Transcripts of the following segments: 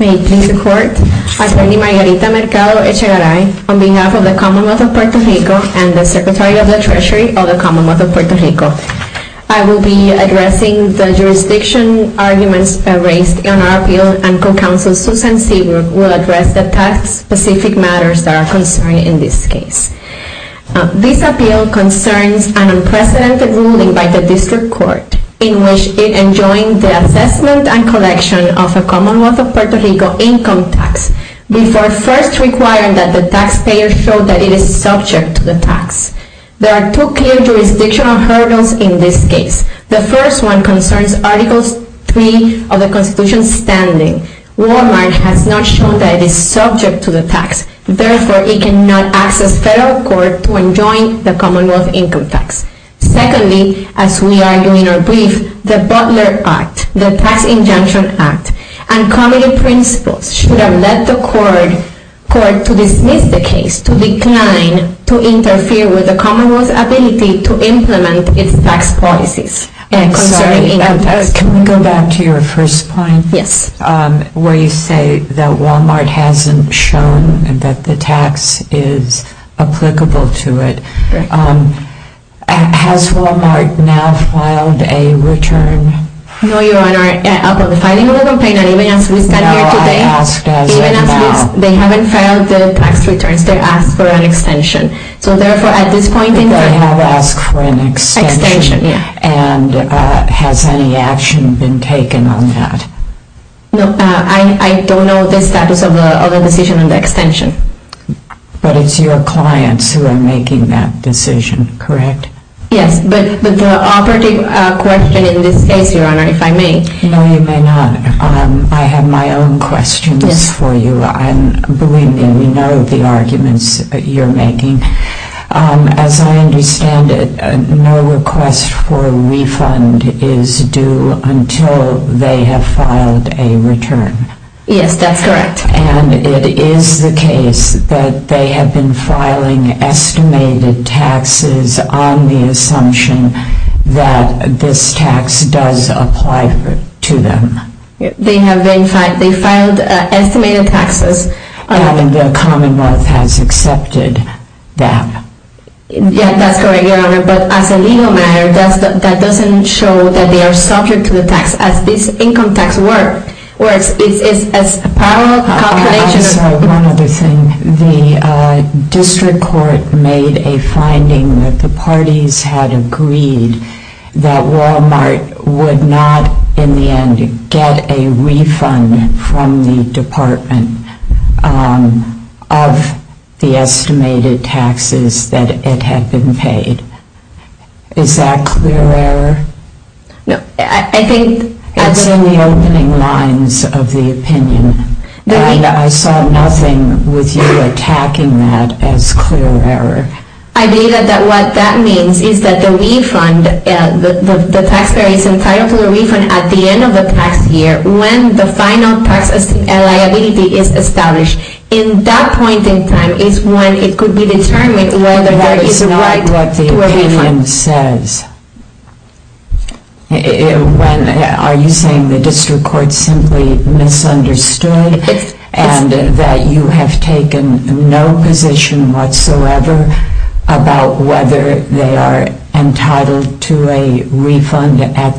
May it please the Court, Assembly Member Margarita Mercado Echegaray, on behalf of the Commonwealth of Puerto Rico and the Secretary of the Treasury of the Commonwealth of Puerto Rico, I will be addressing the jurisdiction arguments raised in our appeal, and Co-Counsel Susan Seabrook will address the tax-specific matters that are concerned in this case. This appeal concerns an unprecedented ruling by the District Court in which it enjoined the assessment and collection of a Commonwealth of Puerto Rico income tax before first requiring that the taxpayer show that it is subject to the tax. There are two clear jurisdictional hurdles in this case. The first one concerns Article 3 of the Constitution's standing. Walmart has not shown that it is subject to the tax. Therefore, it cannot ask the Federal Court to enjoin the Commonwealth income tax. Secondly, as we are doing our brief, the Butler Act, the Tax Injunction Act, and committee principles should have led the Court to dismiss the case, to decline, to interfere with the Commonwealth's ability to implement its tax policies concerning income tax. Can we go back to your first point, where you say that Walmart hasn't shown that the tax is applicable to it. Has Walmart now filed a return? No, Your Honor. Upon the filing of the complaint, and even as we stand here today, even as they haven't filed the tax returns, they asked for an extension. So, therefore, at this point in time, they have asked for an extension, and has any action been taken on that? No, I don't know the status of the decision on the extension. But it's your clients who are making that decision, correct? Yes, but the operative question in this case, Your Honor, if I may. No, you may not. I have my own questions for you. And believe me, we know the arguments that you're making. As I understand it, no request for refund is due until they have filed a return. Yes, that's correct. And it is the case that they have been filing estimated taxes on the assumption that this tax does apply to them. They have been filing estimated taxes. And the Commonwealth has accepted that. Yes, that's correct, Your Honor. But as a legal matter, that doesn't show that they are subject to the tax as this income tax works. It's a parallel calculation. One other thing. The district court made a finding that the parties had agreed that Walmart would not, in the end, get a refund from the department of the estimated taxes that it had been paid. Is that clear error? It's in the opening lines of the opinion. I saw nothing with you attacking that as clear error. I believe that what that means is that the refund, the taxpayer is entitled to a refund at the end of the tax year when the final tax liability is established. In that point in time is when it could be determined whether there is a right to a refund. The opinion says, are you saying the district court simply misunderstood and that you have taken no position whatsoever about whether they are entitled to a refund at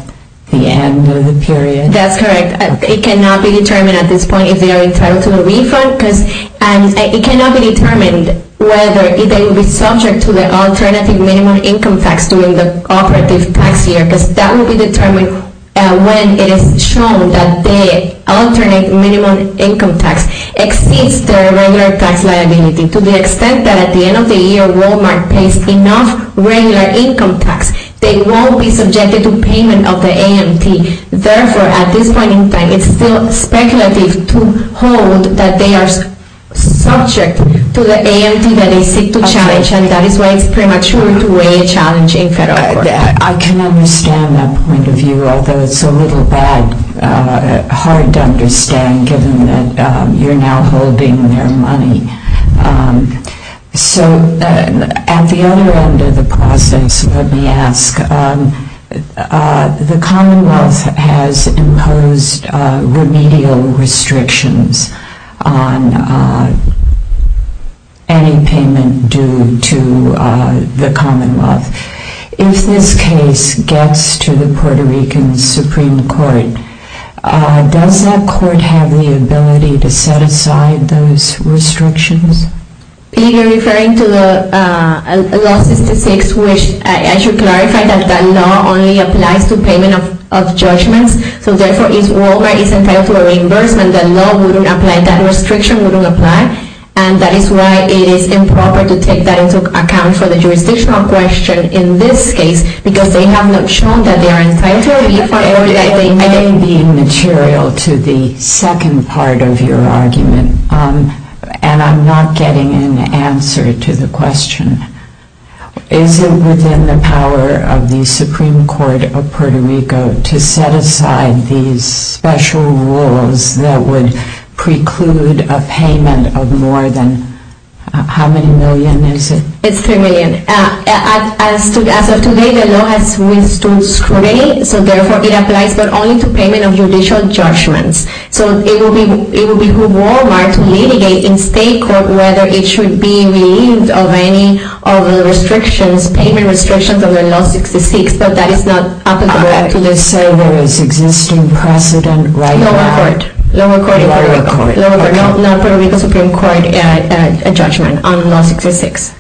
the end of the period? That's correct. It cannot be determined at this point if they are entitled to a refund because it cannot be determined whether they will be subject to the alternative minimum income tax during the operative tax year because that will be determined when it is shown that the alternate minimum income tax exceeds their regular tax liability to the extent that at the end of the year Walmart pays enough regular income tax. They won't be subjected to payment of the AMT. Therefore, at this point in time, it's still speculative to hold that they are subject to the AMT that they seek to challenge and that is why it's premature to weigh a challenge in federal court. I can understand that point of view, although it's a little hard to understand given that you're now holding their money. At the other end of the process, let me ask, the Commonwealth has imposed remedial restrictions on any payment due to the Commonwealth. If this case gets to the Puerto Rican Supreme Court, does that court have the ability to set aside those restrictions? You're referring to the law 66, which I should clarify that that law only applies to payment of judgments. Therefore, if Walmart is entitled to a reimbursement, that law wouldn't apply, that restriction wouldn't apply, and that is why it is improper to take that into account for the jurisdictional question in this case because they have not shown that they are entitled to a refund. It may be material to the second part of your argument and I'm not getting an answer to the question. Is it within the power of the Supreme Court of Puerto Rico to set aside these special rules that would preclude a payment of more than, how many million is it? It's three million. As of today, the law has withstood scrutiny, so therefore it applies not only to payment of judicial judgments. So it would be for Walmart to litigate in state court whether it should be relieved of any of the restrictions, payment restrictions of the law 66, but that is not applicable. Lower court, not Puerto Rico Supreme Court, a judgment on law 66.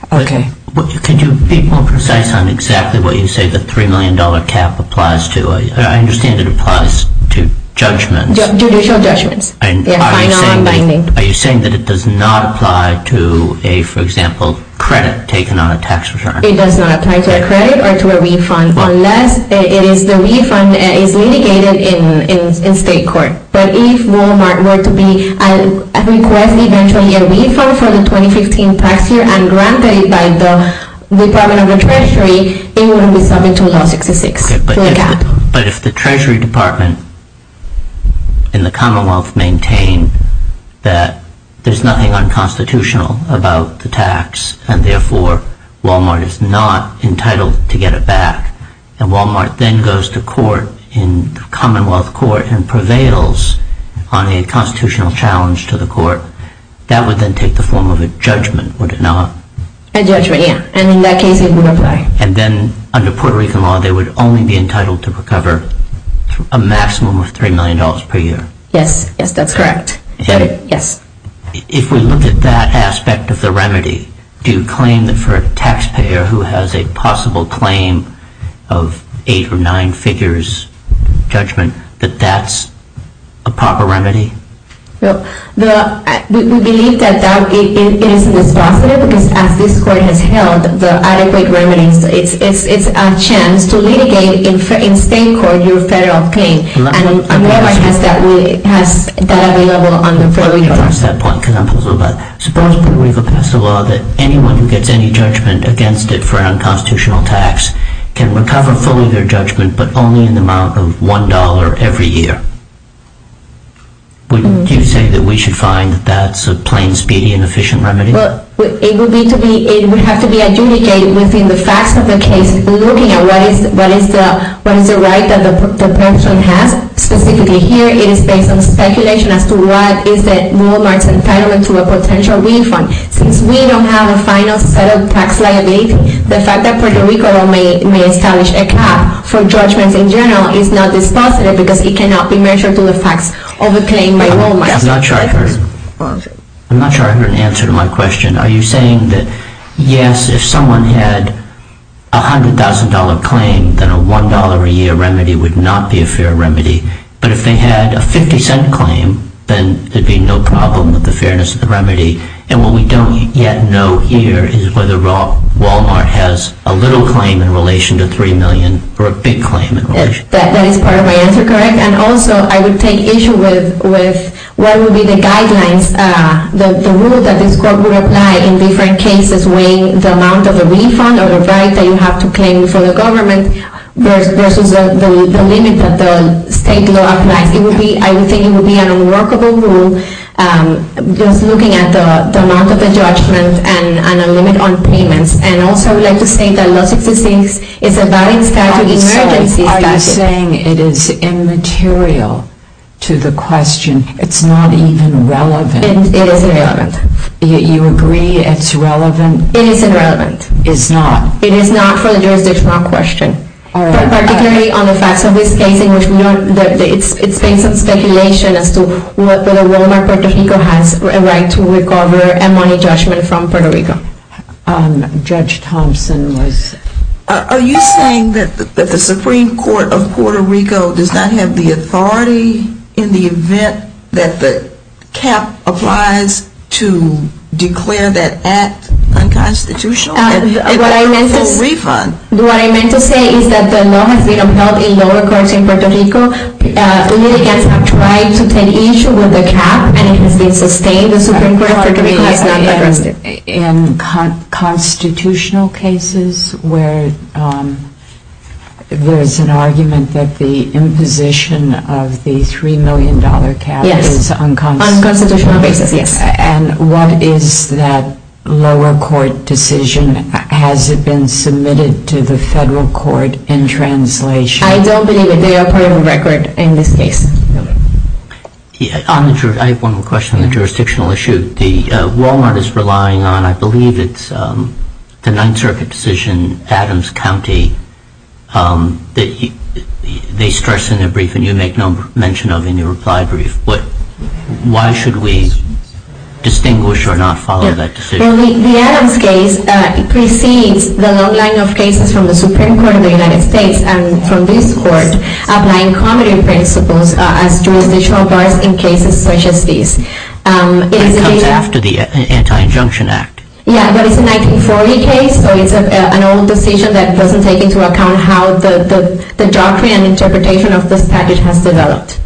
Can you be more precise on exactly what you say the $3 million cap applies to? I understand it applies to judgments. Judicial judgments. Are you saying that it does not apply to a, for example, credit taken on a tax return? It does not apply to a credit or to a refund unless the refund is litigated in state court. But if Walmart were to request eventually a refund for the 2015 tax year and granted it by the Department of the Treasury, it wouldn't be subject to law 66. But if the Treasury Department and the Commonwealth maintain that there's nothing unconstitutional about the tax and therefore Walmart is not entitled to get it back and Walmart then goes to court in Commonwealth court and prevails on a constitutional challenge to the court, that would then take the form of a judgment, would it not? A judgment, yeah. And in that case it would apply. And then under Puerto Rican law, they would only be entitled to recover a maximum of $3 million per year. Yes, yes, that's correct. Is that it? Yes. If we look at that aspect of the remedy, do you claim that for a taxpayer who has a possible claim of eight or nine figures judgment that that's a proper remedy? Well, we believe that that is a dispositive because as this court has held, the adequate remedies, it's a chance to litigate in state court your federal claim. And Walmart has that available under Puerto Rican law. Would you say that we should find that's a plain speedy and efficient remedy? I'm not sure I heard an answer to my question. Are you saying that, yes, if someone had a $100,000 claim, then a $1 a year remedy would not be a fair remedy. But if they had a $0.50 claim, then there'd be no problem with the fairness of the remedy. And what we don't yet know here is whether Walmart has a little claim in relation to $3 million or a big claim in relation to $3 million. That is part of my answer, correct? And also, I would take issue with what would be the guidelines, the rule that this court would apply in different cases weighing the amount of a refund or a right that you have to claim for the government versus the limit that the state law applies. I would think it would be an unworkable rule just looking at the amount of the judgment and a limit on payments. And also, I would like to say that Los Existentes is a valid statute, an emergency statute. Are you saying it is immaterial to the question? It's not even relevant? It is irrelevant. You agree it's relevant? It is irrelevant. It's not? It is not for the jurisdictional question. All right. Particularly on the facts of this case in which it's based on speculation as to whether Walmart Puerto Rico has a right to recover a money judgment from Puerto Rico. Judge Thompson was… Are you saying that the Supreme Court of Puerto Rico does not have the authority in the event that the cap applies to declare that act unconstitutional? What I meant to say is that the law has been upheld in lower courts in Puerto Rico. The litigants have tried to take issue with the cap, and it has been sustained. The Supreme Court of Puerto Rico has not addressed it. In constitutional cases where there is an argument that the imposition of the $3 million cap is unconstitutional? On constitutional basis, yes. And what is that lower court decision? Has it been submitted to the federal court in translation? I don't believe it. They are putting a record in this case. I have one more question on the jurisdictional issue. The case that Walmart is relying on, I believe it's the Ninth Circuit decision, Adams County. They stress in their brief, and you make no mention of in your reply brief, why should we distinguish or not follow that decision? The Adams case precedes the long line of cases from the Supreme Court of the United States and from this court applying comedy principles as jurisdictional bars in cases such as this. It comes after the Anti-Injunction Act. Yes, but it's a 1940 case, so it's an old decision that doesn't take into account how the doctrine and interpretation of this package has developed.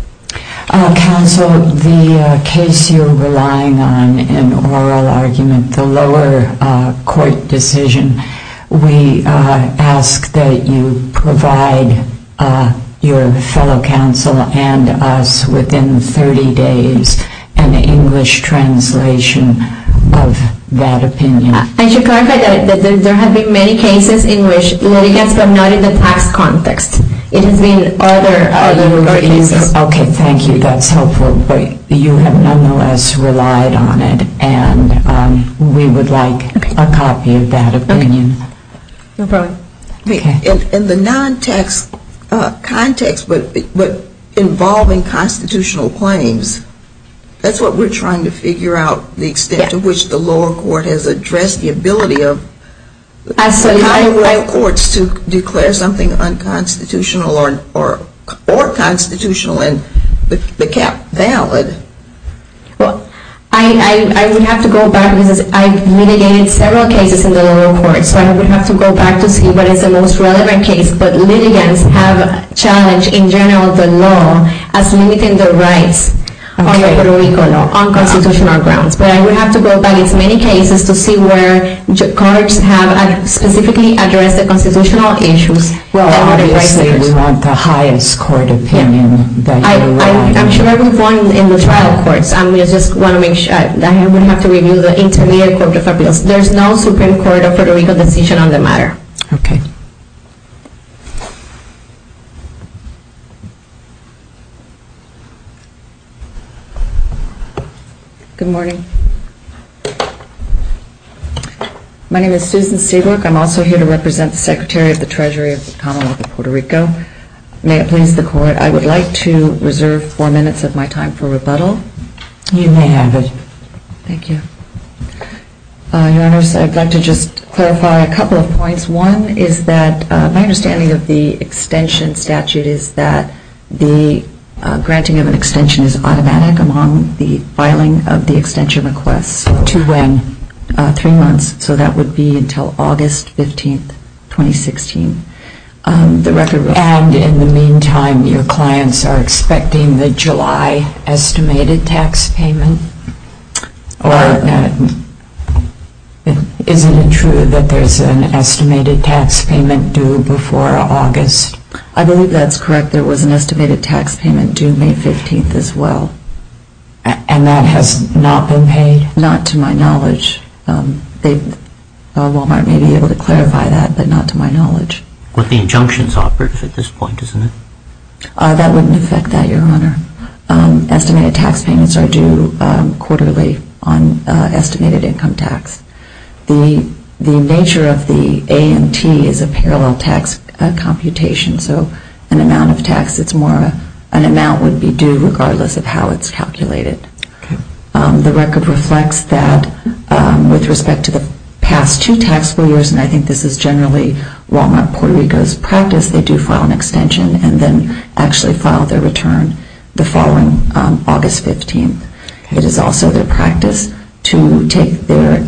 Counsel, the case you're relying on, an oral argument, the lower court decision, we ask that you provide your fellow counsel and us within 30 days an English translation of that opinion. I should clarify that there have been many cases in which litigants were not in the tax context. It has been other cases. Okay, thank you. That's helpful. But you have nonetheless relied on it, and we would like a copy of that opinion. No problem. In the non-tax context, but involving constitutional claims, that's what we're trying to figure out, the extent to which the lower court has addressed the ability of higher courts to declare something unconstitutional. Well, I would have to go back because I've litigated several cases in the lower court, so I would have to go back to see what is the most relevant case. But litigants have challenged in general the law as limiting their rights on constitutional grounds. But I would have to go back in many cases to see where courts have specifically addressed the constitutional issues. Well, obviously, we want the highest court opinion that you have. I'm sure I can find it in the trial courts. I just want to make sure that I would have to review the intermediate court of appeals. There's no Supreme Court of Puerto Rico decision on the matter. Okay. Good morning. My name is Susan Seabrook. I'm also here to represent the Secretary of the Treasury of the Commonwealth of Puerto Rico. May it please the Court, I would like to reserve four minutes of my time for rebuttal. You may have it. Thank you. Your Honors, I'd like to just clarify a couple of points. One is that my understanding of the extension statute is that the granting of an extension is automatic among the filing of the extension request. To when? Three months. So that would be until August 15, 2016. And in the meantime, your clients are expecting the July estimated tax payment? Or isn't it true that there's an estimated tax payment due before August? I believe that's correct. There was an estimated tax payment due May 15 as well. And that has not been paid? Not to my knowledge. Walmart may be able to clarify that, but not to my knowledge. But the injunction is operative at this point, isn't it? That wouldn't affect that, your Honor. Estimated tax payments are due quarterly on estimated income tax. The nature of the A and T is a parallel tax computation. So an amount of tax, it's more of an amount would be due regardless of how it's calculated. Okay. The record reflects that with respect to the past two taxable years, and I think this is generally Walmart Puerto Rico's practice, they do file an extension and then actually file their return the following August 15. It is also their practice to take their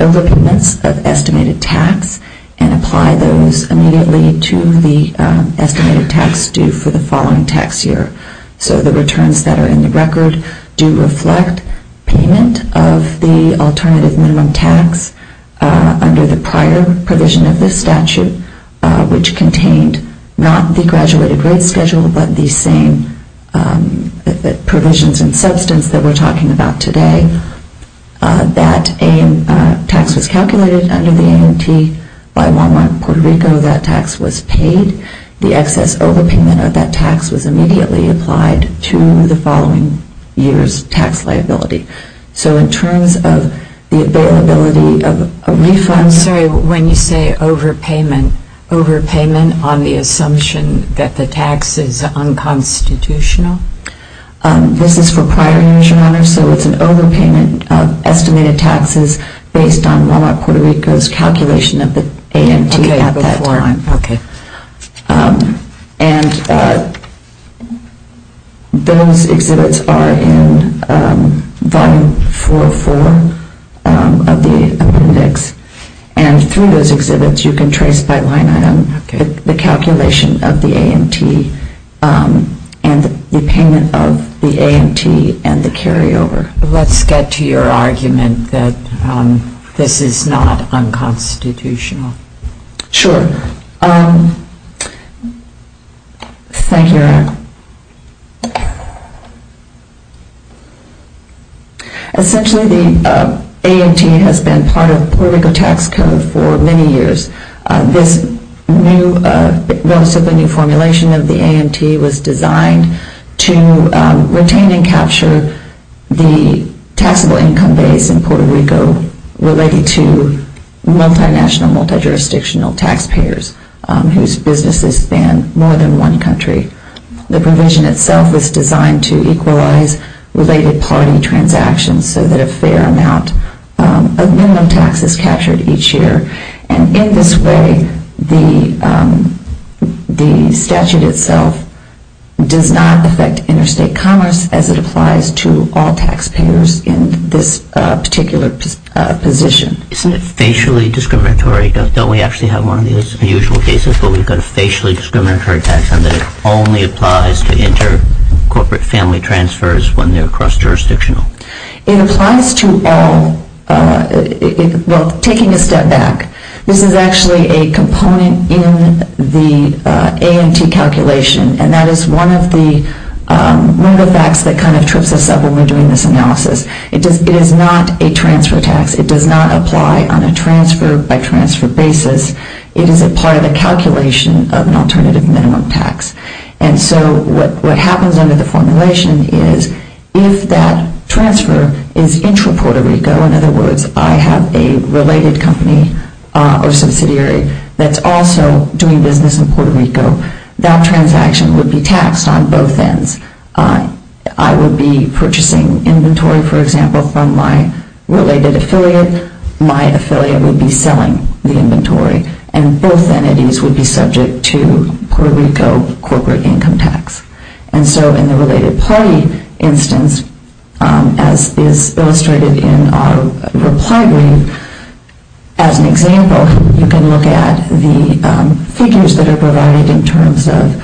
overpayments of estimated tax and apply those immediately to the estimated tax due for the following tax year. So the returns that are in the record do reflect payment of the alternative minimum tax under the prior provision of this statute, which contained not the graduated rate schedule, but the same provisions and substance that we're talking about today. That tax was calculated under the A and T by Walmart Puerto Rico. That tax was paid. The excess overpayment of that tax was immediately applied to the following year's tax liability. So in terms of the availability of refunds... Overpayment on the assumption that the tax is unconstitutional? This is for prior years, Your Honor. So it's an overpayment of estimated taxes based on Walmart Puerto Rico's calculation of the A and T at that time. Okay. And those exhibits are in Volume 404 of the appendix. And through those exhibits, you can trace by line item the calculation of the A and T and the payment of the A and T and the carryover. Let's get to your argument that this is not unconstitutional. Thank you, Your Honor. Essentially, the A and T has been part of Puerto Rico tax code for many years. This new formulation of the A and T was designed to retain and capture the taxable income base in Puerto Rico related to multinational, multijurisdictional taxpayers whose businesses span more than one country. The provision itself was designed to equalize related party transactions so that a fair amount of minimum tax is captured each year. And in this way, the statute itself does not affect interstate commerce as it applies to all taxpayers in this particular position. Isn't it facially discriminatory? Sorry, don't we actually have one of these unusual cases where we've got a facially discriminatory tax and that it only applies to inter-corporate family transfers when they're cross-jurisdictional? It applies to all. Well, taking a step back, this is actually a component in the A and T calculation. And that is one of the facts that kind of trips us up when we're doing this analysis. It is not a transfer tax. It does not apply on a transfer-by-transfer basis. It is a part of the calculation of an alternative minimum tax. And so what happens under the formulation is if that transfer is intra-Puerto Rico, in other words, I have a related company or subsidiary that's also doing business in Puerto Rico, that transaction would be taxed on both ends. I would be purchasing inventory, for example, from my related affiliate. My affiliate would be selling the inventory. And both entities would be subject to Puerto Rico corporate income tax. And so in the related party instance, as is illustrated in our reply brief, as an example, you can look at the figures that are provided in terms of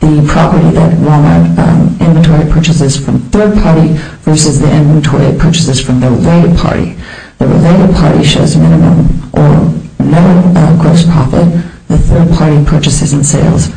the property that Walmart inventory purchases from third-party versus the inventory it purchases from the related party. The related party shows minimum or no gross profit. The third-party purchases and sales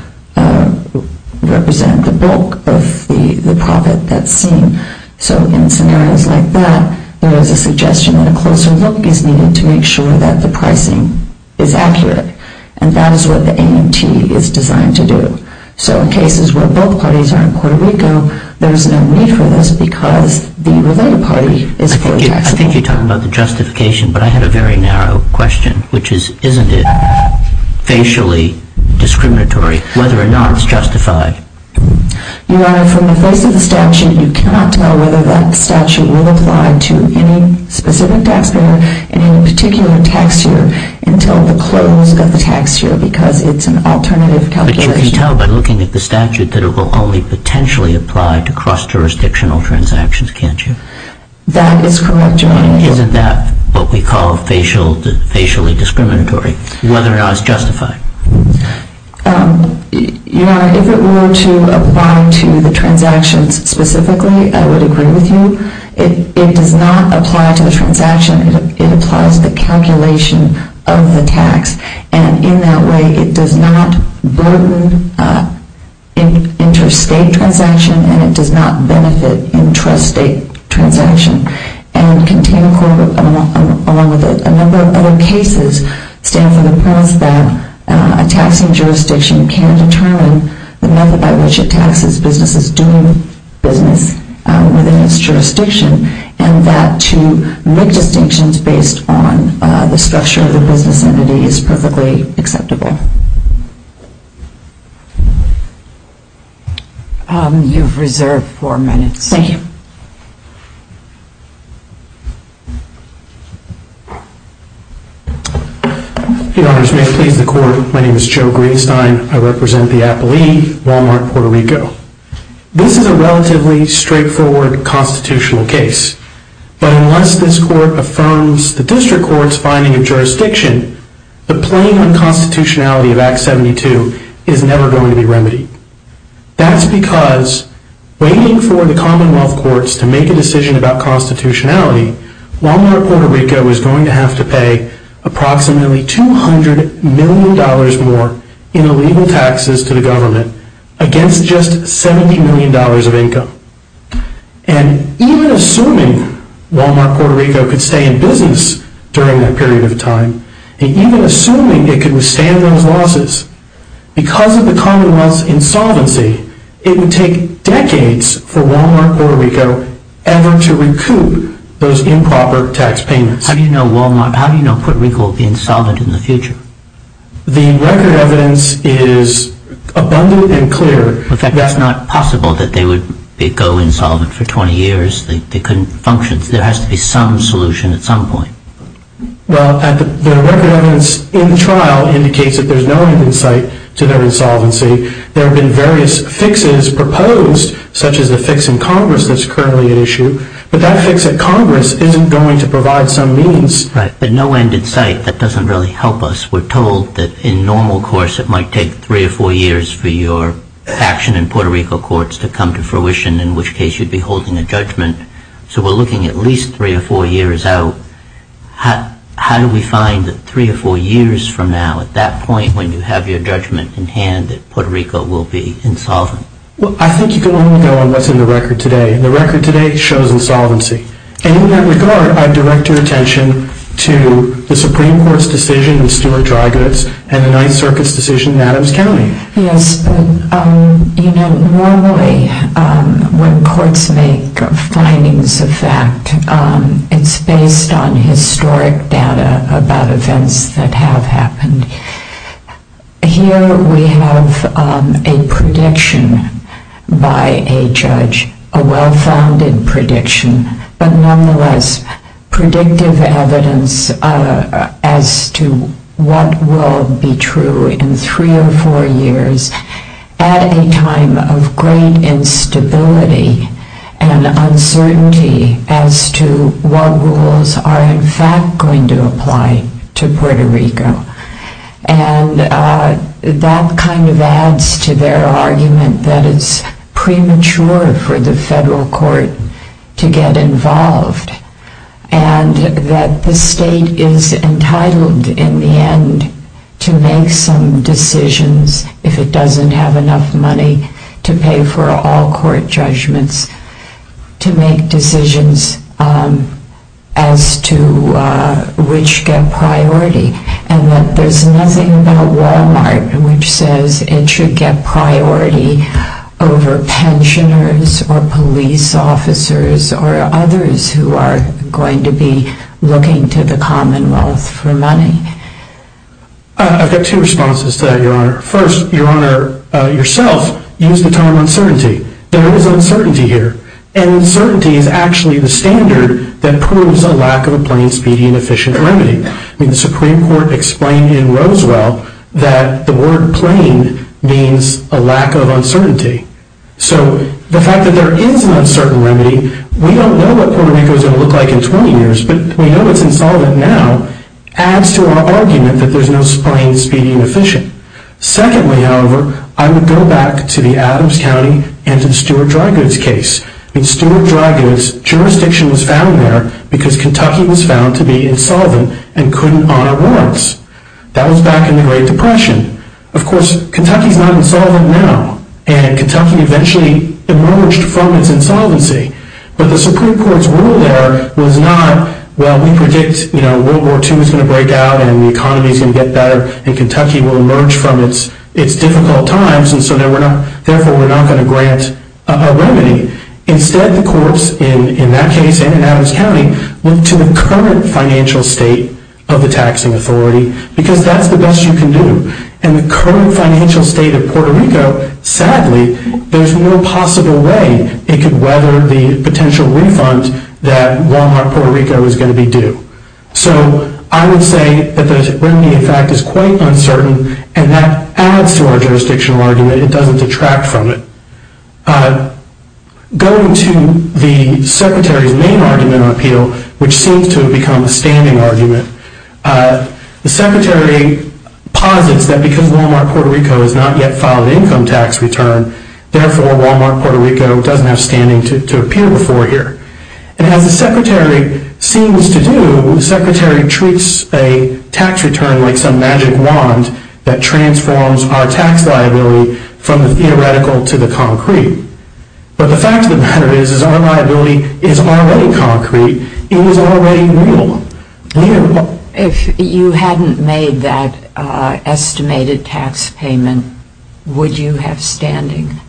represent the bulk of the profit that's seen. So in scenarios like that, there is a suggestion that a closer look is needed to make sure that the pricing is accurate. And that is what the AMT is designed to do. So in cases where both parties are in Puerto Rico, there's no need for this because the related party is fully taxable. I think you're talking about the justification, but I had a very narrow question, which is isn't it facially discriminatory whether or not it's justified? Your Honor, from the face of the statute, you cannot tell whether that statute will apply to any specific taxpayer in any particular tax year until the close of the tax year because it's an alternative calculation. But you can tell by looking at the statute that it will only potentially apply to cross-jurisdictional transactions, can't you? That is correct, Your Honor. Isn't that what we call facially discriminatory, whether or not it's justified? Your Honor, if it were to apply to the transactions specifically, I would agree with you. It does not apply to the transaction. It applies to the calculation of the tax. And in that way, it does not burden interstate transaction, and it does not benefit intrastate transaction. A number of other cases stand for the premise that a taxing jurisdiction can determine the method by which it taxes businesses doing business within its jurisdiction and that to make distinctions based on the structure of the business entity is perfectly acceptable. You've reserved four minutes. Thank you. Your Honors, may it please the Court. My name is Joe Greenstein. I represent the Appalee, Walmart, Puerto Rico. This is a relatively straightforward constitutional case. But unless this Court affirms the District Court's finding of jurisdiction, the playing on constitutionality of Act 72 is never going to be remedied. That's because waiting for the Commonwealth Courts to make a decision about constitutionality, Walmart, Puerto Rico is going to have to pay approximately $200 million more in illegal taxes to the government against just $70 million of income. And even assuming Walmart, Puerto Rico could stay in business during that period of time, and even assuming it could withstand those losses, because of the Commonwealth's insolvency, it would take decades for Walmart, Puerto Rico ever to recoup those improper tax payments. How do you know Walmart? How do you know Puerto Rico will be insolvent in the future? The record evidence is abundant and clear. In fact, that's not possible that they would go insolvent for 20 years. They couldn't function. There has to be some solution at some point. Well, the record evidence in the trial indicates that there's no end in sight to their insolvency. There have been various fixes proposed, such as the fix in Congress that's currently at issue, but that fix at Congress isn't going to provide some means. Right, but no end in sight, that doesn't really help us. We're told that in normal course it might take three or four years for your action in Puerto Rico courts to come to fruition, in which case you'd be holding a judgment. So we're looking at least three or four years out. How do we find that three or four years from now, at that point, when you have your judgment in hand, that Puerto Rico will be insolvent? Well, I think you can only go on what's in the record today, and the record today shows insolvency. And in that regard, I'd direct your attention to the Supreme Court's decision in Stewart-Drygoods and the Ninth Circuit's decision in Adams County. Yes, but normally when courts make findings of fact, it's based on historic data about events that have happened. Here we have a prediction by a judge, a well-founded prediction, but nonetheless predictive evidence as to what will be true in three or four years at a time of great instability and uncertainty as to what rules are in fact going to apply to Puerto Rico. And that kind of adds to their argument that it's premature for the federal court to get involved and that the state is entitled, in the end, to make some decisions, if it doesn't have enough money to pay for all court judgments, to make decisions as to which get priority. And that there's nothing about Walmart which says it should get priority over pensioners or police officers or others who are going to be looking to the Commonwealth for money. I've got two responses to that, Your Honor. First, Your Honor, yourself used the term uncertainty. There is uncertainty here, and uncertainty is actually the standard that proves a lack of a plain, speedy, and efficient remedy. The Supreme Court explained in Roswell that the word plain means a lack of uncertainty. So the fact that there is an uncertain remedy, we don't know what Puerto Rico is going to look like in 20 years, but we know it's insolvent now, adds to our argument that there's no plain, speedy, and efficient. Secondly, however, I would go back to the Adams County and to the Stewart Dry Goods case. In Stewart Dry Goods, jurisdiction was found there because Kentucky was found to be insolvent and couldn't honor warrants. That was back in the Great Depression. Of course, Kentucky is not insolvent now, and Kentucky eventually emerged from its insolvency. But the Supreme Court's rule there was not, well, we predict World War II is going to break out and the economy is going to get better, and Kentucky will emerge from its difficult times, Instead, the courts, in that case and in Adams County, look to the current financial state of the taxing authority, because that's the best you can do. In the current financial state of Puerto Rico, sadly, there's no possible way it could weather the potential refund that Walmart Puerto Rico is going to be due. So I would say that the remedy, in fact, is quite uncertain, and that adds to our jurisdictional argument. It doesn't detract from it. Going to the Secretary's main argument on appeal, which seems to have become a standing argument, the Secretary posits that because Walmart Puerto Rico has not yet filed an income tax return, therefore Walmart Puerto Rico doesn't have standing to appeal before here. And as the Secretary seems to do, the Secretary treats a tax return like some magic wand that transforms our tax liability from the theoretical to the concrete. But the fact of the matter is, is our liability is already concrete. It is already real. If you hadn't made that estimated tax payment, would you have standing?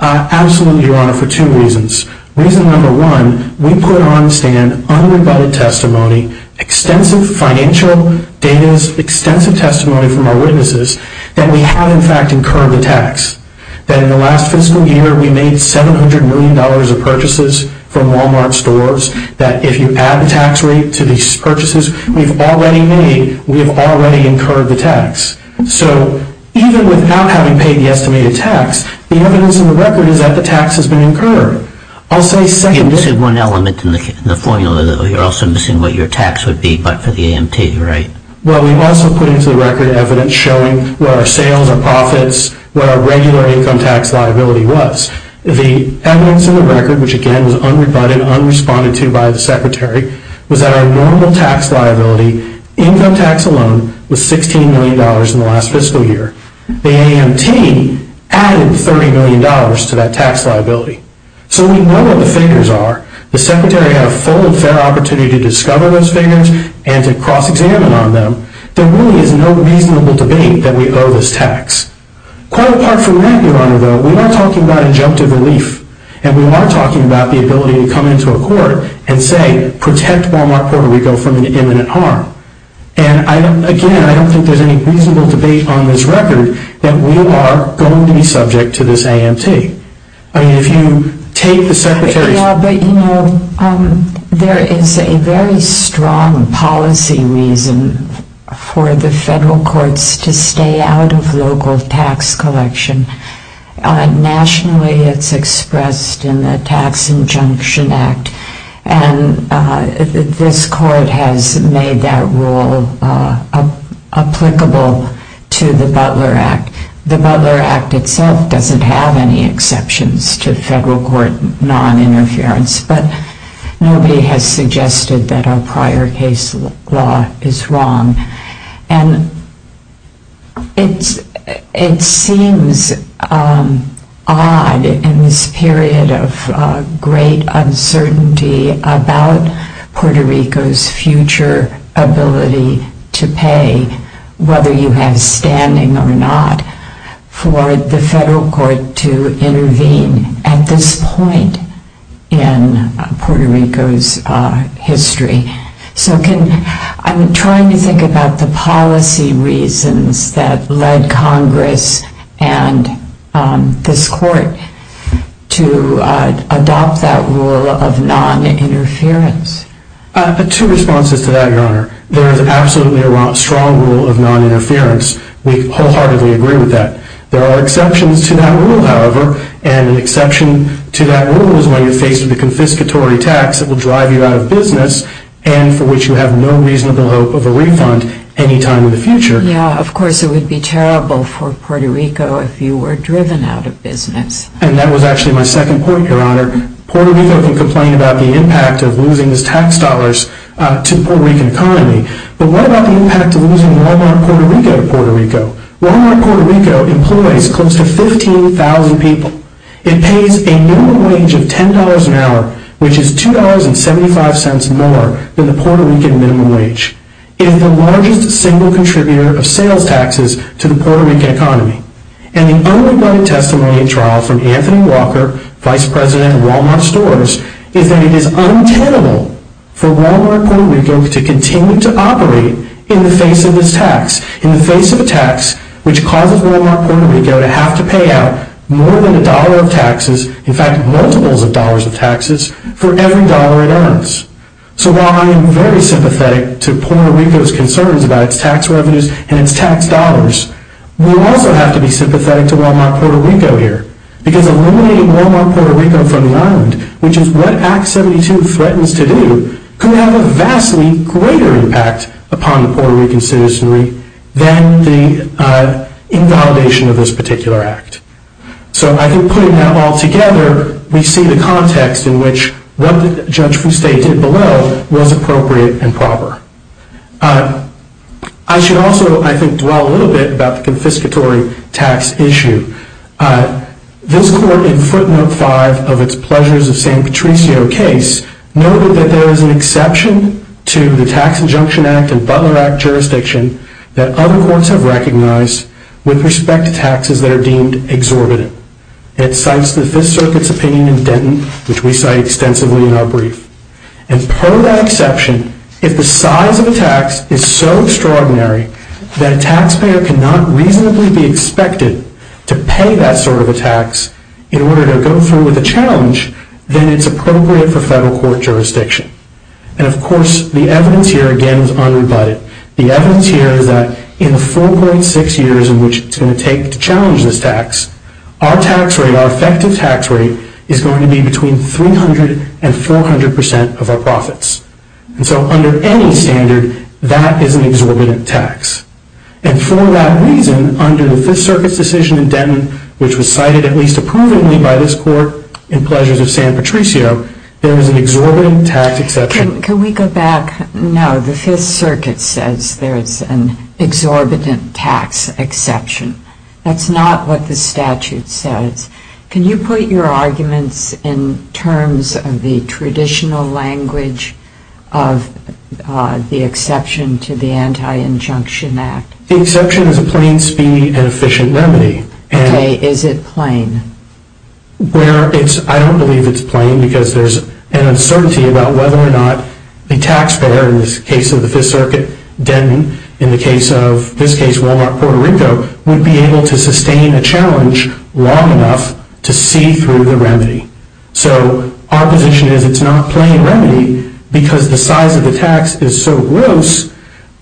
Absolutely, Your Honor, for two reasons. Reason number one, we put on stand unrebutted testimony, extensive financial data, extensive testimony from our witnesses that we have, in fact, incurred the tax. That in the last fiscal year we made $700 million of purchases from Walmart stores, that if you add the tax rate to these purchases we've already made, we've already incurred the tax. So even without having paid the estimated tax, the evidence in the record is that the tax has been incurred. You're missing one element in the formula, though. You're also missing what your tax would be, but for the AMT, you're right. Well, we've also put into the record evidence showing where our sales and profits, where our regular income tax liability was. The evidence in the record, which again was unrebutted, unresponded to by the Secretary, was that our normal tax liability, income tax alone, was $16 million in the last fiscal year. The AMT added $30 million to that tax liability. So we know what the figures are. The Secretary had a full and fair opportunity to discover those figures and to cross-examine on them. There really is no reasonable debate that we owe this tax. Quite apart from that, Your Honor, though, we are talking about injunctive relief, and we are talking about the ability to come into a court and say, protect Walmart Puerto Rico from imminent harm. And again, I don't think there's any reasonable debate on this record that we are going to be subject to this AMT. I mean, if you take the Secretary's... Yeah, but you know, there is a very strong policy reason for the federal courts to stay out of local tax collection. Nationally, it's expressed in the Tax Injunction Act, and this court has made that rule applicable to the Butler Act. The Butler Act itself doesn't have any exceptions to federal court non-interference, but nobody has suggested that our prior case law is wrong. And it seems odd in this period of great uncertainty about Puerto Rico's future ability to pay, whether you have standing or not, for the federal court to intervene at this point in Puerto Rico's history. So I'm trying to think about the policy reasons that led Congress and this court to adopt that rule of non-interference. Two responses to that, Your Honor. There is absolutely a strong rule of non-interference. We wholeheartedly agree with that. There are exceptions to that rule, however, and an exception to that rule is when you're faced with a confiscatory tax that will drive you out of business and for which you have no reasonable hope of a refund any time in the future. Yeah, of course it would be terrible for Puerto Rico if you were driven out of business. And that was actually my second point, Your Honor. Puerto Rico can complain about the impact of losing its tax dollars to the Puerto Rican economy, but what about the impact of losing Walmart Puerto Rico to Puerto Rico? Walmart Puerto Rico employs close to 15,000 people. It pays a minimum wage of $10 an hour, which is $2.75 more than the Puerto Rican minimum wage. It is the largest single contributor of sales taxes to the Puerto Rican economy. And the only valid testimony in trial from Anthony Walker, Vice President of Walmart Stores, is that it is untenable for Walmart Puerto Rico to continue to operate in the face of this tax, in the face of a tax which causes Walmart Puerto Rico to have to pay out more than a dollar of taxes, in fact multiples of dollars of taxes, for every dollar it earns. So while I am very sympathetic to Puerto Rico's concerns about its tax revenues and its tax dollars, we also have to be sympathetic to Walmart Puerto Rico here. Because eliminating Walmart Puerto Rico from the island, which is what Act 72 threatens to do, could have a vastly greater impact upon the Puerto Rican citizenry than the invalidation of this particular act. So I think putting that all together, we see the context in which what Judge Fuste did below was appropriate and proper. I should also, I think, dwell a little bit about the confiscatory tax issue. This court, in footnote 5 of its Pleasures of St. Patricio case, noted that there is an exception to the Tax Injunction Act and Butler Act jurisdiction that other courts have recognized with respect to taxes that are deemed exorbitant. It cites the Fifth Circuit's opinion in Denton, which we cite extensively in our brief. And per that exception, if the size of a tax is so extraordinary that a taxpayer cannot reasonably be expected to pay that sort of a tax in order to go through with a challenge, then it's appropriate for federal court jurisdiction. And of course, the evidence here, again, is unrebutted. The evidence here is that in the 4.6 years in which it's going to take to challenge this tax, our tax rate, our effective tax rate, is going to be between 300 and 400 percent of our profits. And so under any standard, that is an exorbitant tax. And for that reason, under the Fifth Circuit's decision in Denton, which was cited at least approvingly by this court in Pleasures of St. Patricio, there is an exorbitant tax exception. Can we go back? No, the Fifth Circuit says there is an exorbitant tax exception. That's not what the statute says. Can you put your arguments in terms of the traditional language of the exception to the Anti-Injunction Act? The exception is a plain speed and efficient remedy. Okay, is it plain? I don't believe it's plain because there's an uncertainty about whether or not a taxpayer, in this case of the Fifth Circuit, Denton, in the case of, in this case, Wal-Mart, Puerto Rico, would be able to sustain a challenge long enough to see through the remedy. So our position is it's not a plain remedy because the size of the tax is so gross,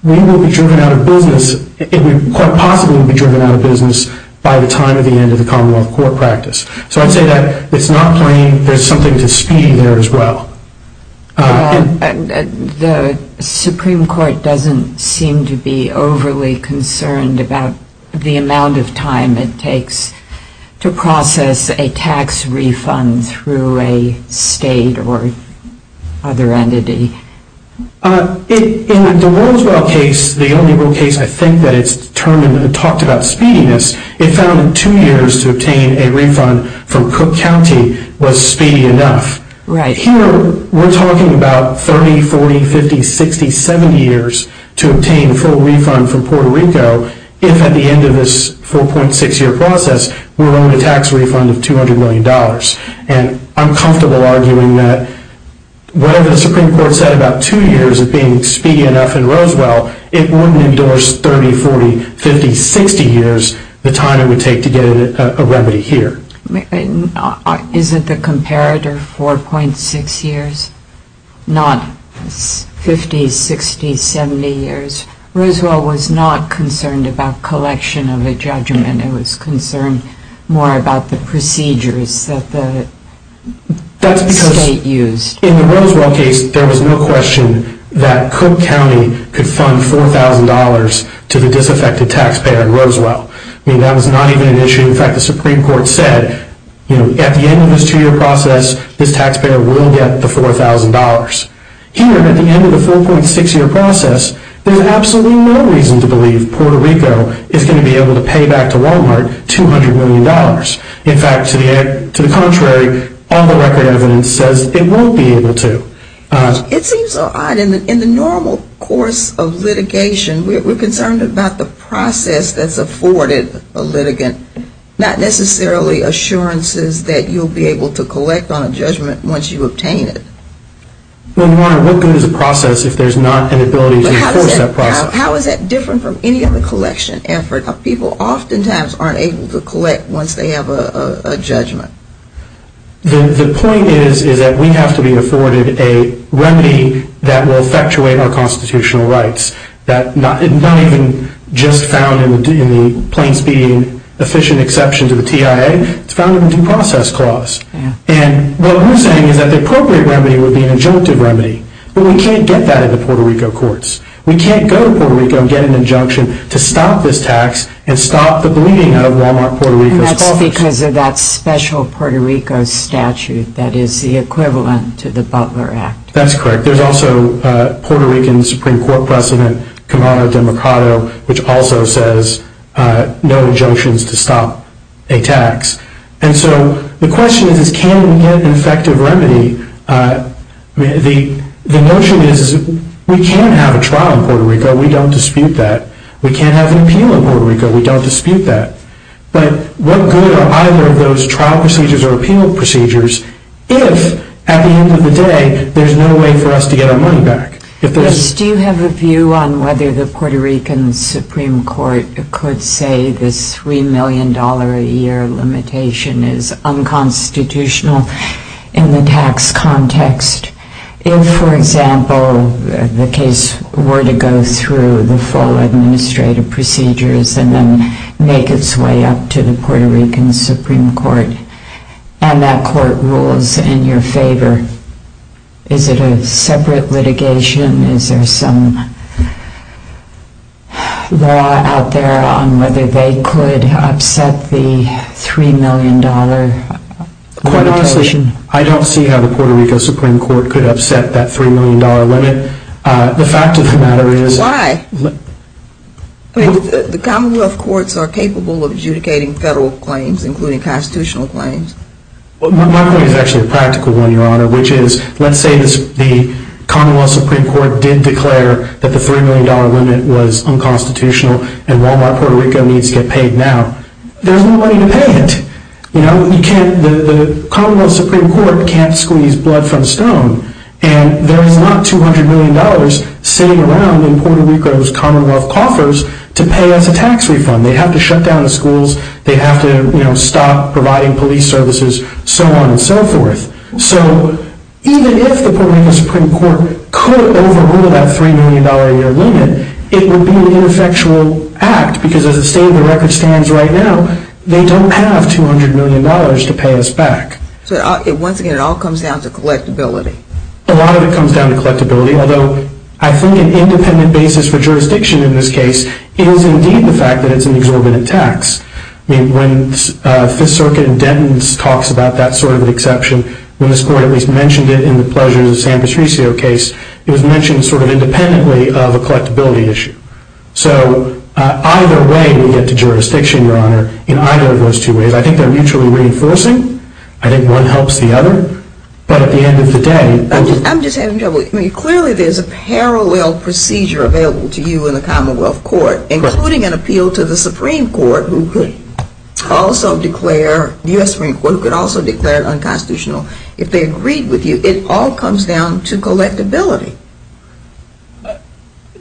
we will be driven out of business. It would quite possibly be driven out of business by the time of the end of the Commonwealth Court practice. So I'd say that it's not plain. There's something to speed there as well. The Supreme Court doesn't seem to be overly concerned about the amount of time it takes to process a tax refund through a state or other entity. In the Roswell case, the only real case I think that it's determined and talked about speediness, it found two years to obtain a refund from Cook County was speedy enough. Right. Here we're talking about 30, 40, 50, 60, 70 years to obtain a full refund from Puerto Rico if at the end of this 4.6-year process we're owing a tax refund of $200 million. And I'm comfortable arguing that whatever the Supreme Court said about two years of being speedy enough in Roswell, it wouldn't endorse 30, 40, 50, 60 years, the time it would take to get a remedy here. Isn't the comparator 4.6 years, not 50, 60, 70 years? Roswell was not concerned about collection of a judgment. It was concerned more about the procedures that the state used. In the Roswell case, there was no question that Cook County could fund $4,000 to the disaffected taxpayer in Roswell. I mean, that was not even an issue. In fact, the Supreme Court said at the end of this two-year process, this taxpayer will get the $4,000. Here, at the end of the 4.6-year process, there's absolutely no reason to believe Puerto Rico is going to be able to pay back to Walmart $200 million. In fact, to the contrary, all the record evidence says it won't be able to. It seems odd. In the normal course of litigation, we're concerned about the process that's afforded to the litigant, not necessarily assurances that you'll be able to collect on a judgment once you obtain it. Well, Your Honor, what good is a process if there's not an ability to enforce that process? How is that different from any other collection effort? People oftentimes aren't able to collect once they have a judgment. The point is that we have to be afforded a remedy that will effectuate our exception to the TIA. It's found in the Due Process Clause. And what we're saying is that the appropriate remedy would be an injunctive remedy. But we can't get that at the Puerto Rico courts. We can't go to Puerto Rico and get an injunction to stop this tax and stop the bleeding out of Walmart, Puerto Rico's coffers. And that's because of that special Puerto Rico statute that is the equivalent to the Butler Act. That's correct. There's also Puerto Rican Supreme Court President, Kamala DeMarco, which also says no injunctions to stop a tax. And so the question is, can we get an effective remedy? The notion is we can have a trial in Puerto Rico. We don't dispute that. We can't have an appeal in Puerto Rico. We don't dispute that. But what good are either of those trial procedures or appeal procedures if, at the end of the day, there's no way for us to get our money back? Do you have a view on whether the Puerto Rican Supreme Court could say this $3 million a year limitation is unconstitutional in the tax context? If, for example, the case were to go through the full administrative procedures and then make its way up to the Puerto Rican Supreme Court and that court rules in your favor, is it a separate litigation? Is there some law out there on whether they could upset the $3 million limitation? Quite honestly, I don't see how the Puerto Rico Supreme Court could upset that $3 million limit. The fact of the matter is the commonwealth courts are capable of adjudicating federal claims, including constitutional claims. My point is actually a practical one, Your Honor, which is let's say the commonwealth Supreme Court did declare that the $3 million limit was unconstitutional and Walmart Puerto Rico needs to get paid now. There's no money to pay it. The commonwealth Supreme Court can't squeeze blood from stone. And there is not $200 million sitting around in Puerto Rico's commonwealth coffers to pay us a tax refund. They have to shut down the schools. They have to stop providing police services, so on and so forth. So even if the Puerto Rico Supreme Court could overrule that $3 million limit, it would be an ineffectual act because as the state of the record stands right now, they don't have $200 million to pay us back. So once again, it all comes down to collectability. A lot of it comes down to collectability, although I think an independent basis for jurisdiction in this case is indeed the fact that it's an exception. I mean, when Fifth Circuit in Denton talks about that sort of an exception, when this court at least mentioned it in the Pleasures of San Patricio case, it was mentioned sort of independently of a collectability issue. So either way we get to jurisdiction, Your Honor, in either of those two ways. I think they're mutually reinforcing. I think one helps the other. But at the end of the day – I'm just having trouble. I mean, clearly there's a parallel procedure available to you in the U.S. Supreme Court who could also declare it unconstitutional. If they agreed with you, it all comes down to collectability.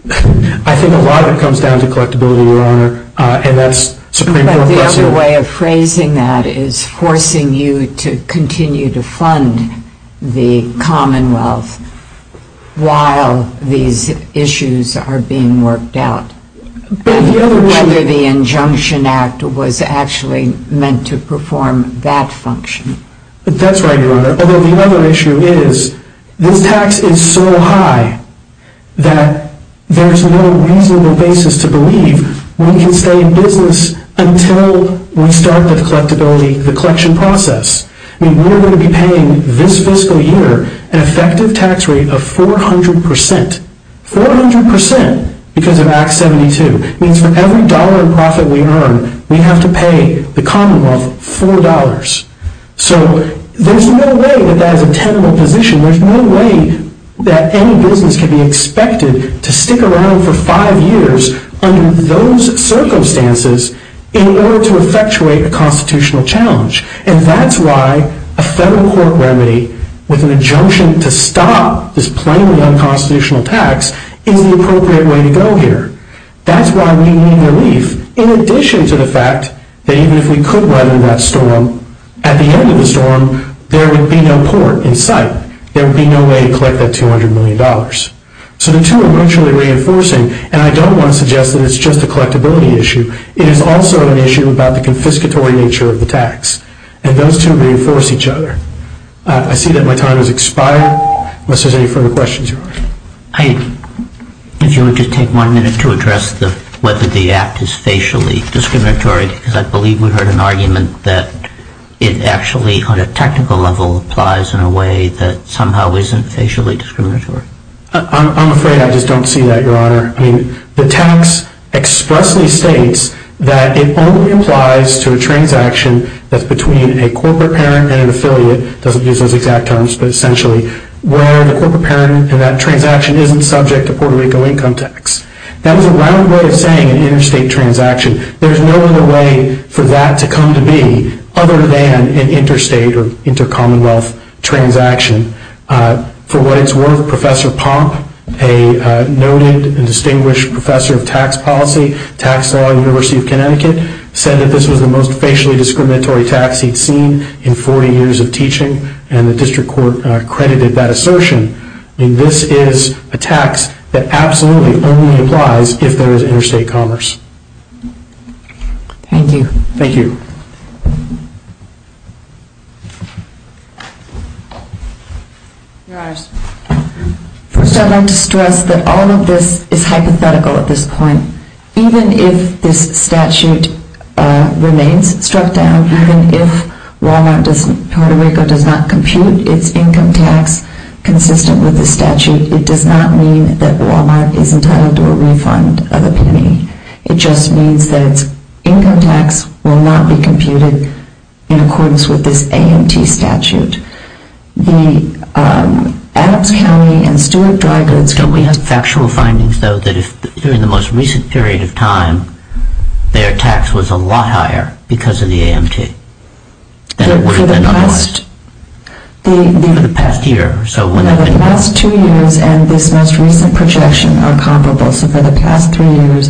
I think a lot of it comes down to collectability, Your Honor, and that's Supreme Court policy. But the other way of phrasing that is forcing you to continue to fund the Commonwealth while these issues are being worked out. Whether the injunction act was actually meant to perform that function. That's right, Your Honor. Although the other issue is this tax is so high that there's no reasonable basis to believe we can stay in business until we start the collectability, the collection process. I mean, we're going to be paying this fiscal year an effective tax rate of 400 percent. 400 percent because of Act 72. It means for every dollar in profit we earn, we have to pay the Commonwealth $4. So there's no way that that is a tenable position. There's no way that any business can be expected to stick around for five years under those circumstances in order to effectuate a constitutional challenge. And that's why a federal court remedy with an injunction to stop this tax is the appropriate way to go here. That's why we need relief in addition to the fact that even if we could weather that storm, at the end of the storm, there would be no port in sight. There would be no way to collect that $200 million. So the two are mutually reinforcing. And I don't want to suggest that it's just a collectability issue. It is also an issue about the confiscatory nature of the tax. And those two reinforce each other. I see that my time has expired unless there's any further questions, Your Honor. If you would just take one minute to address whether the act is facially discriminatory because I believe we heard an argument that it actually on a technical level applies in a way that somehow isn't facially discriminatory. I'm afraid I just don't see that, Your Honor. I mean, the tax expressly states that it only applies to a transaction that's between a corporate parent and an affiliate. It doesn't use those exact terms, but essentially where the corporate parent in that transaction isn't subject to Puerto Rico income tax. That was a round way of saying an interstate transaction. There's no other way for that to come to be other than an interstate or intercommonwealth transaction. For what it's worth, Professor Pomp, a noted and distinguished professor of tax policy, tax law at the University of Connecticut, said that this was the most facially discriminatory tax he'd seen in 40 years of teaching. And the district court credited that assertion. I mean, this is a tax that absolutely only applies if there is interstate commerce. Thank you. Thank you. Your Honors, first I'd like to stress that all of this is hypothetical at this point. Even if this statute remains struck down, even if Walmart does not, does not compute its income tax consistent with the statute, it does not mean that Walmart is entitled to a refund of epitome. It just means that its income tax will not be computed in accordance with this AMT statute. The Adams County and Stewart Dry Goods... Don't we have factual findings, though, that if during the most recent period of time their tax was a lot higher because of the AMT? For the past two years and this most recent projection are comparable. So for the past three years,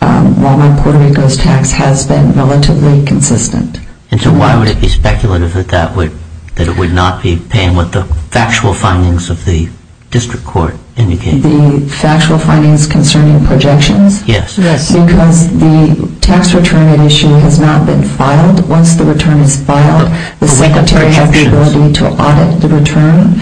Walmart Puerto Rico's tax has been relatively consistent. And so why would it be speculative that it would not be paying what the factual findings of the district court indicate? The factual findings concerning projections? Yes. Because the tax return at issue has not been filed. Once the return is filed, the secretary has the ability to audit the return.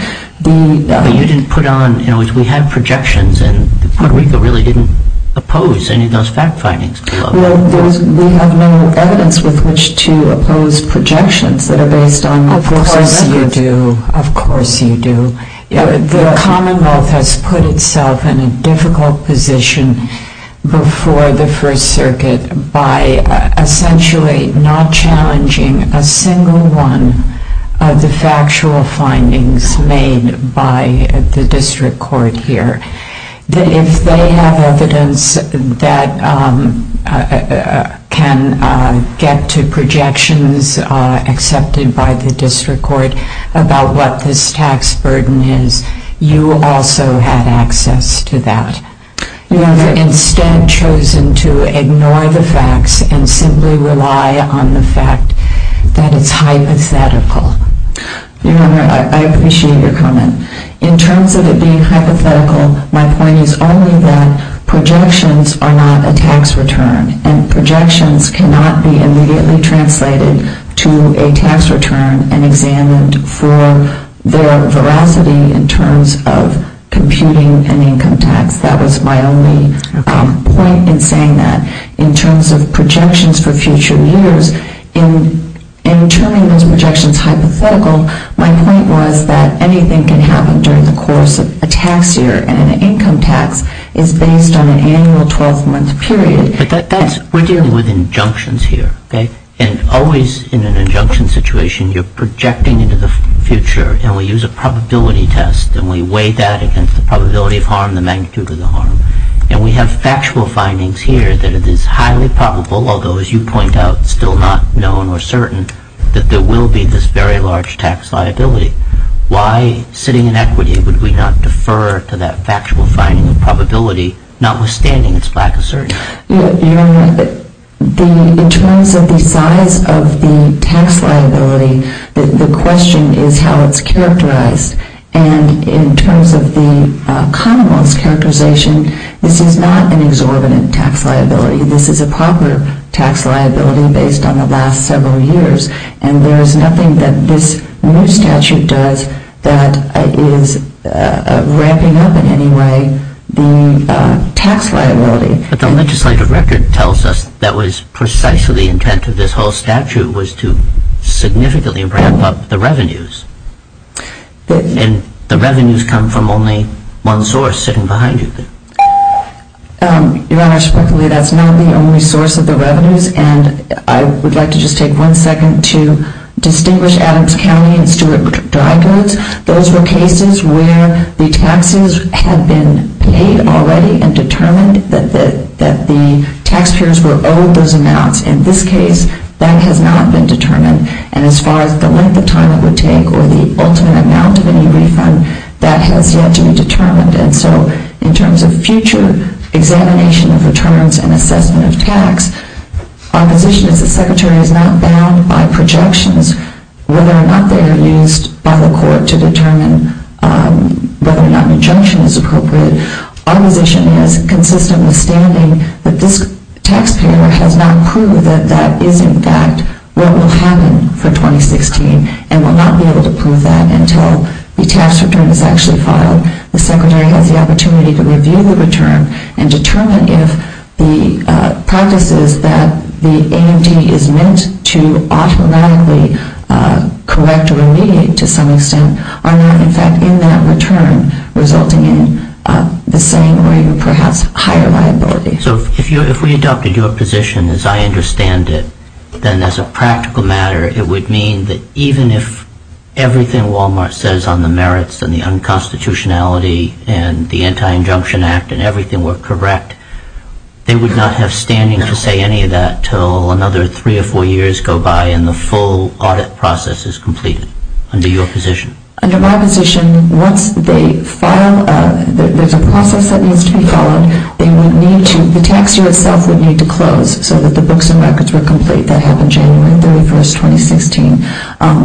But you didn't put on, you know, we had projections and Puerto Rico really didn't oppose any of those fact findings. Well, we have no evidence with which to oppose projections that are based on... Of course you do. Of course you do. The Commonwealth has put itself in a difficult position before the First Circuit by essentially not challenging a single one of the factual findings made by the district court here. If they have evidence that can get to projections accepted by the district court about what this tax burden is, you also had access to that. You have instead chosen to ignore the facts and simply rely on the fact that it's hypothetical. Your Honor, I appreciate your comment. In terms of it being hypothetical, my point is only that projections are not a tax return. And projections cannot be immediately translated to a tax return and examined for their veracity in terms of computing an income tax. That was my only point in saying that. In terms of projections for future years, in turning those projections hypothetical, my point was that anything can happen during the course of a tax year and an income tax is based on an annual 12-month period. But that's... We're dealing with injunctions here, okay? And always in an injunction situation, you're projecting into the future and we use a probability test. And we weigh that against the probability of harm, the magnitude of the harm. And we have factual findings here that it is highly probable, although as you point out, still not known or certain, that there will be this very large tax liability. Why, sitting in equity, would we not defer to that factual finding of probability, notwithstanding its lack of certainty? Your Honor, in terms of the size of the tax liability, the question is how it's characterized. And in terms of the commonwealth's characterization, this is not an exorbitant tax liability. This is a proper tax liability based on the last several years. And there is nothing that this new statute does that is ramping up in any way the tax liability. But the legislative record tells us that was precisely the intent of this whole statute was to significantly ramp up the revenues. And the revenues come from only one source sitting behind you. Your Honor, frankly, that's not the only source of the revenues. And I would like to just take one second to distinguish Adams County and Stewart Dry Goods. Those were cases where the taxes had been paid already and determined that the taxpayers were owed those amounts. In this case, that has not been determined. And as far as the length of time it would take or the ultimate amount of any refund, that has yet to be determined. And so in terms of future examination of returns and assessment of tax, our position is the Secretary is not bound by projections whether or not they are used by the court to determine whether or not an injunction is appropriate. Our position is, consistent withstanding, that this taxpayer has not proved that that is, in fact, what will happen for 2016 and will not be able to prove that until the tax return is actually filed. The Secretary has the opportunity to review the return and determine if the practices that the AMT is meant to automatically correct or remediate to some extent are not, in fact, in that return, resulting in the same or even perhaps higher liability. So if we adopted your position as I understand it, then as a practical matter it would mean that even if everything Wal-Mart says on the merits and the unconstitutionality and the Anti-Injunction Act and everything were correct, they would not have standing to say any of that until another three or four years go by and the full audit process is completed under your position? Under my position, once they file, there's a process that needs to be followed. They would need to, the tax year itself would need to close so that the books and records were complete. That happened January 31, 2016.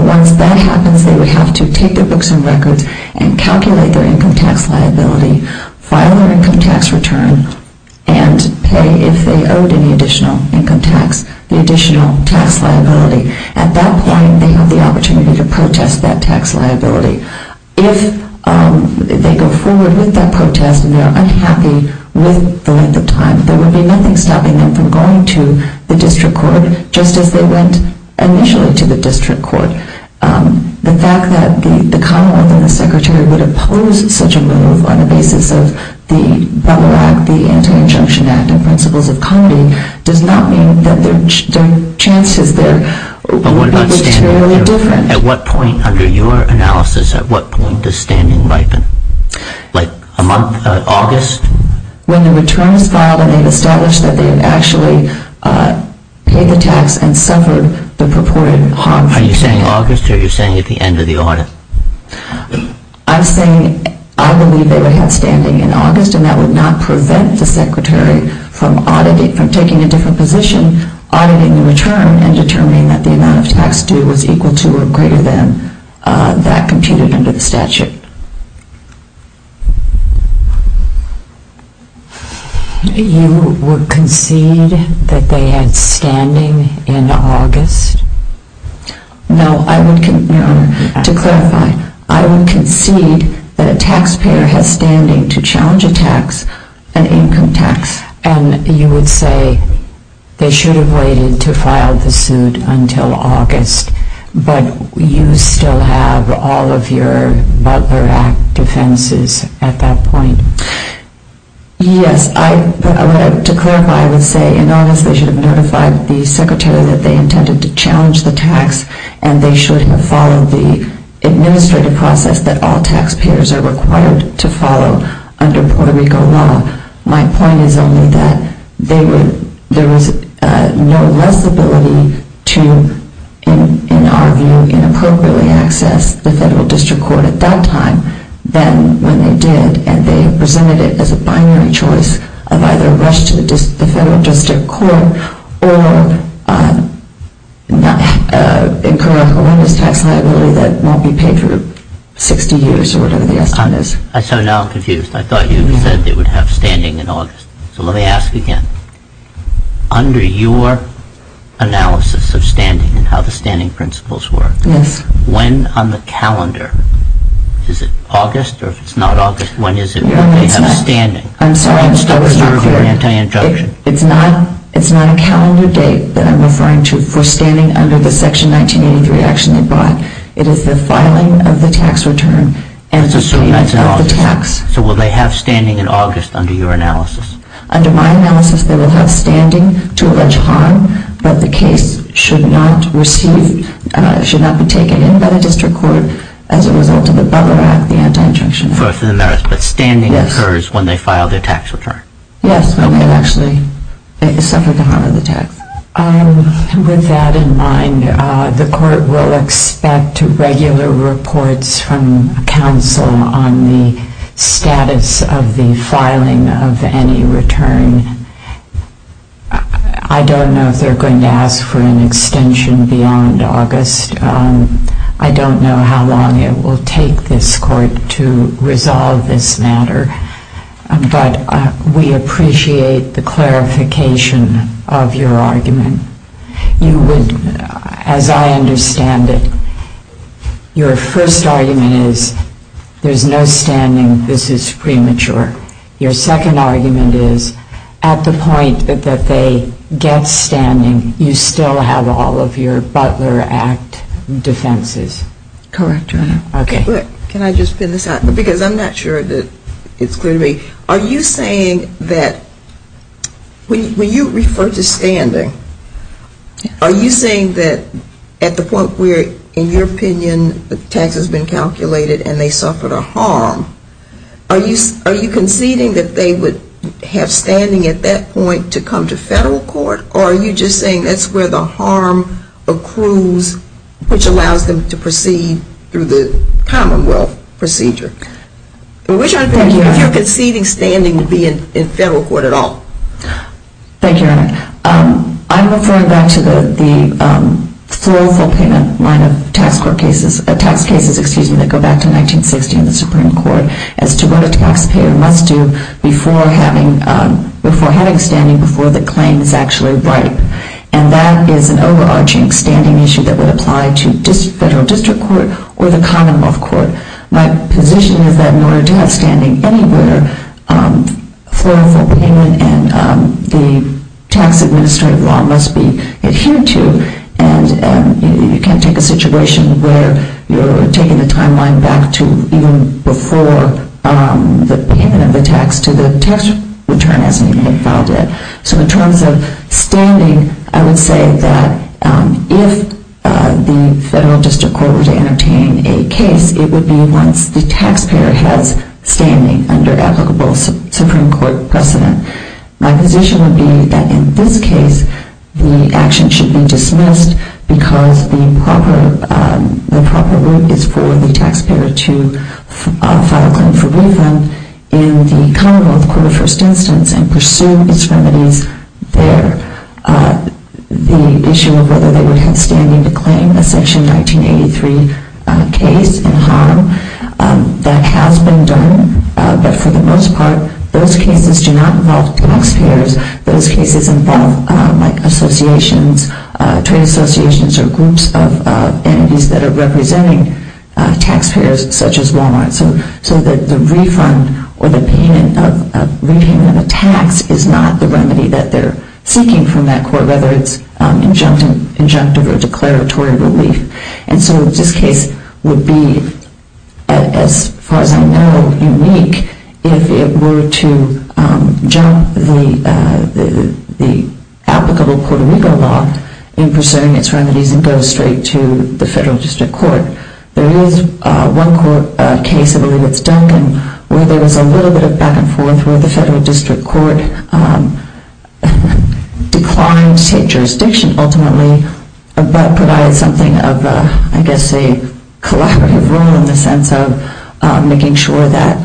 Once that happens, they would have to take their books and records and calculate their income tax liability, file their income tax return, and pay, if they owed any additional income tax, the additional tax liability. At that point, they have the opportunity to protest that tax liability. If they go forward with that protest and they're unhappy with the length of time, there would be nothing stopping them from going to the district court just as they went initially to the district court. The fact that the Commonwealth and the Secretary would oppose such a move on the basis of the bubble act, the Anti-Injunction Act, and principles of comedy, does not mean that their chances there would be materially different. At what point under your analysis, at what point does standing ripen? Like, a month, August? When the return is filed and they've established that they've actually paid the tax and suffered the purported harm. Are you saying August, or are you saying at the end of the audit? I'm saying I believe they would have standing in August and that would not prevent the Secretary from auditing, from taking a different position, auditing the return and determining that the amount of tax due was equal to or greater than that computed under the statute. You would concede that they had standing in August? No, I would, to clarify, I would concede that a taxpayer has standing to challenge a tax, an income tax. And you would say they should have waited to file the suit until August, but you still have all of your Butler Act defenses at that point? Yes, to clarify, I would say in August they should have notified the Secretary that they intended to challenge the tax and they should have followed the administrative process that all taxpayers are required to follow under Puerto Rico law. My point is only that there was no less ability to, in our view, inappropriately access the federal district court at that time than when they did, and they presented it as a binary choice of either rush to the federal district court or incorrect awareness tax liability that won't be paid for 60 years, or whatever the estimate is. So now I'm confused. I thought you said they would have standing in August. So let me ask again. Under your analysis of standing and how the standing principles work, when on the calendar, is it August or if it's not August, when is it when they have standing? I'm sorry, I'm still confused. It's not a calendar date that I'm referring to for standing under the Section 1983 action they brought. It is the filing of the tax return and the payment of the tax. So will they have standing in August under your analysis? Under my analysis, they will have standing to allege harm, but the case should not be taken in by the district court as a result of the Butler Act, the anti-injunction. But standing occurs when they file their tax return. Yes, when they actually suffer the harm of the tax. With that in mind, the court will expect regular reports from counsel on the status of the filing of any return. I don't know if they're going to ask for an extension beyond August. I don't know how long it will take this court to resolve this matter. But we appreciate the clarification of your argument. As I understand it, your first argument is there's no standing, this is premature. Your second argument is at the point that they get standing, you still have all of your Butler Act defenses. Correct, Your Honor. Okay. Can I just pin this out? Because I'm not sure that it's clear to me. Are you saying that when you refer to standing, are you saying that at the point where, in your opinion, the tax has been calculated and they suffered a harm, are you conceding that they would have standing at that point to come to federal court? Or are you just saying that's where the harm accrues, which allows them to proceed through the commonwealth procedure? Thank you, Your Honor. If you're conceding standing to be in federal court at all. Thank you, Your Honor. I'm referring back to the full payment line of tax cases that go back to 1960 in the Supreme Court as to what a taxpayer must do before having standing, before the claim is actually right. And that is an overarching standing issue that would apply to federal district court or the commonwealth court. My position is that in order to have standing anywhere, for a full payment and the tax administrative law must be adhered to, and you can't take a situation where you're taking the timeline back to even before the payment of the tax to the tax return hasn't even been filed yet. So in terms of standing, I would say that if the federal district court were to entertain a case, it would be once the taxpayer has standing under applicable Supreme Court precedent. My position would be that in this case, the action should be dismissed because the proper route is for the taxpayer to file a claim for refund in the commonwealth court of first instance and pursue its remedies there. The issue of whether they would have standing to claim a Section 1983 case in harm, that has been done, but for the most part, those cases do not involve taxpayers. Those cases involve associations, trade associations, or groups of entities that are representing taxpayers such as Walmart. So the refund or the payment of tax is not the remedy that they're seeking from that court, whether it's injunctive or declaratory relief. And so this case would be, as far as I know, unique if it were to jump the applicable Puerto Rico law in pursuing its remedies and go straight to the federal district court. There is one case, I believe it's Duncan, where there was a little bit of back and forth where the federal district court declined to take jurisdiction ultimately, but provided something of, I guess, a collaborative role in the sense of making sure that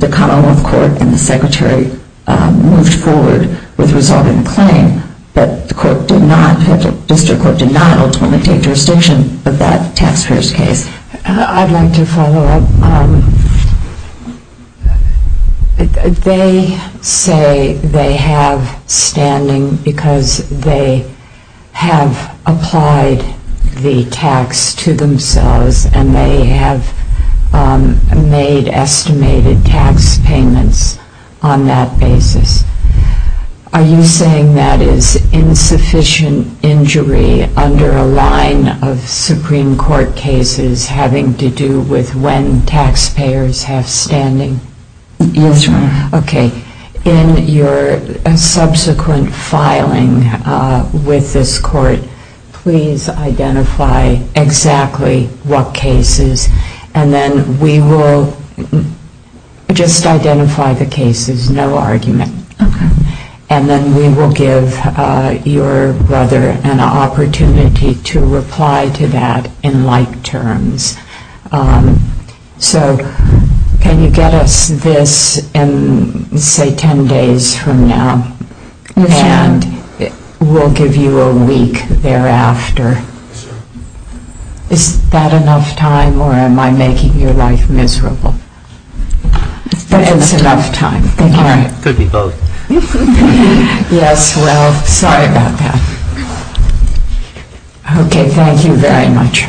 the commonwealth court and the secretary moved forward with resolving the claim. But the district court did not ultimately take jurisdiction of that taxpayer's case. I'd like to follow up. They say they have standing because they have applied the tax to themselves and they have made estimated tax payments on that basis. Are you saying that is insufficient injury under a line of Supreme Court cases having to do with when taxpayers have standing? Yes, Your Honor. Okay. In your subsequent filing with this court, please identify exactly what cases, and then we will just identify the cases, no argument. Okay. And then we will give your brother an opportunity to reply to that in like terms. So can you get us this in, say, 10 days from now? Yes, Your Honor. And we'll give you a week thereafter. Yes, Your Honor. Is that enough time or am I making your life miserable? But it's enough time. All right. Could be both. Yes, well, sorry about that. Okay, thank you very much.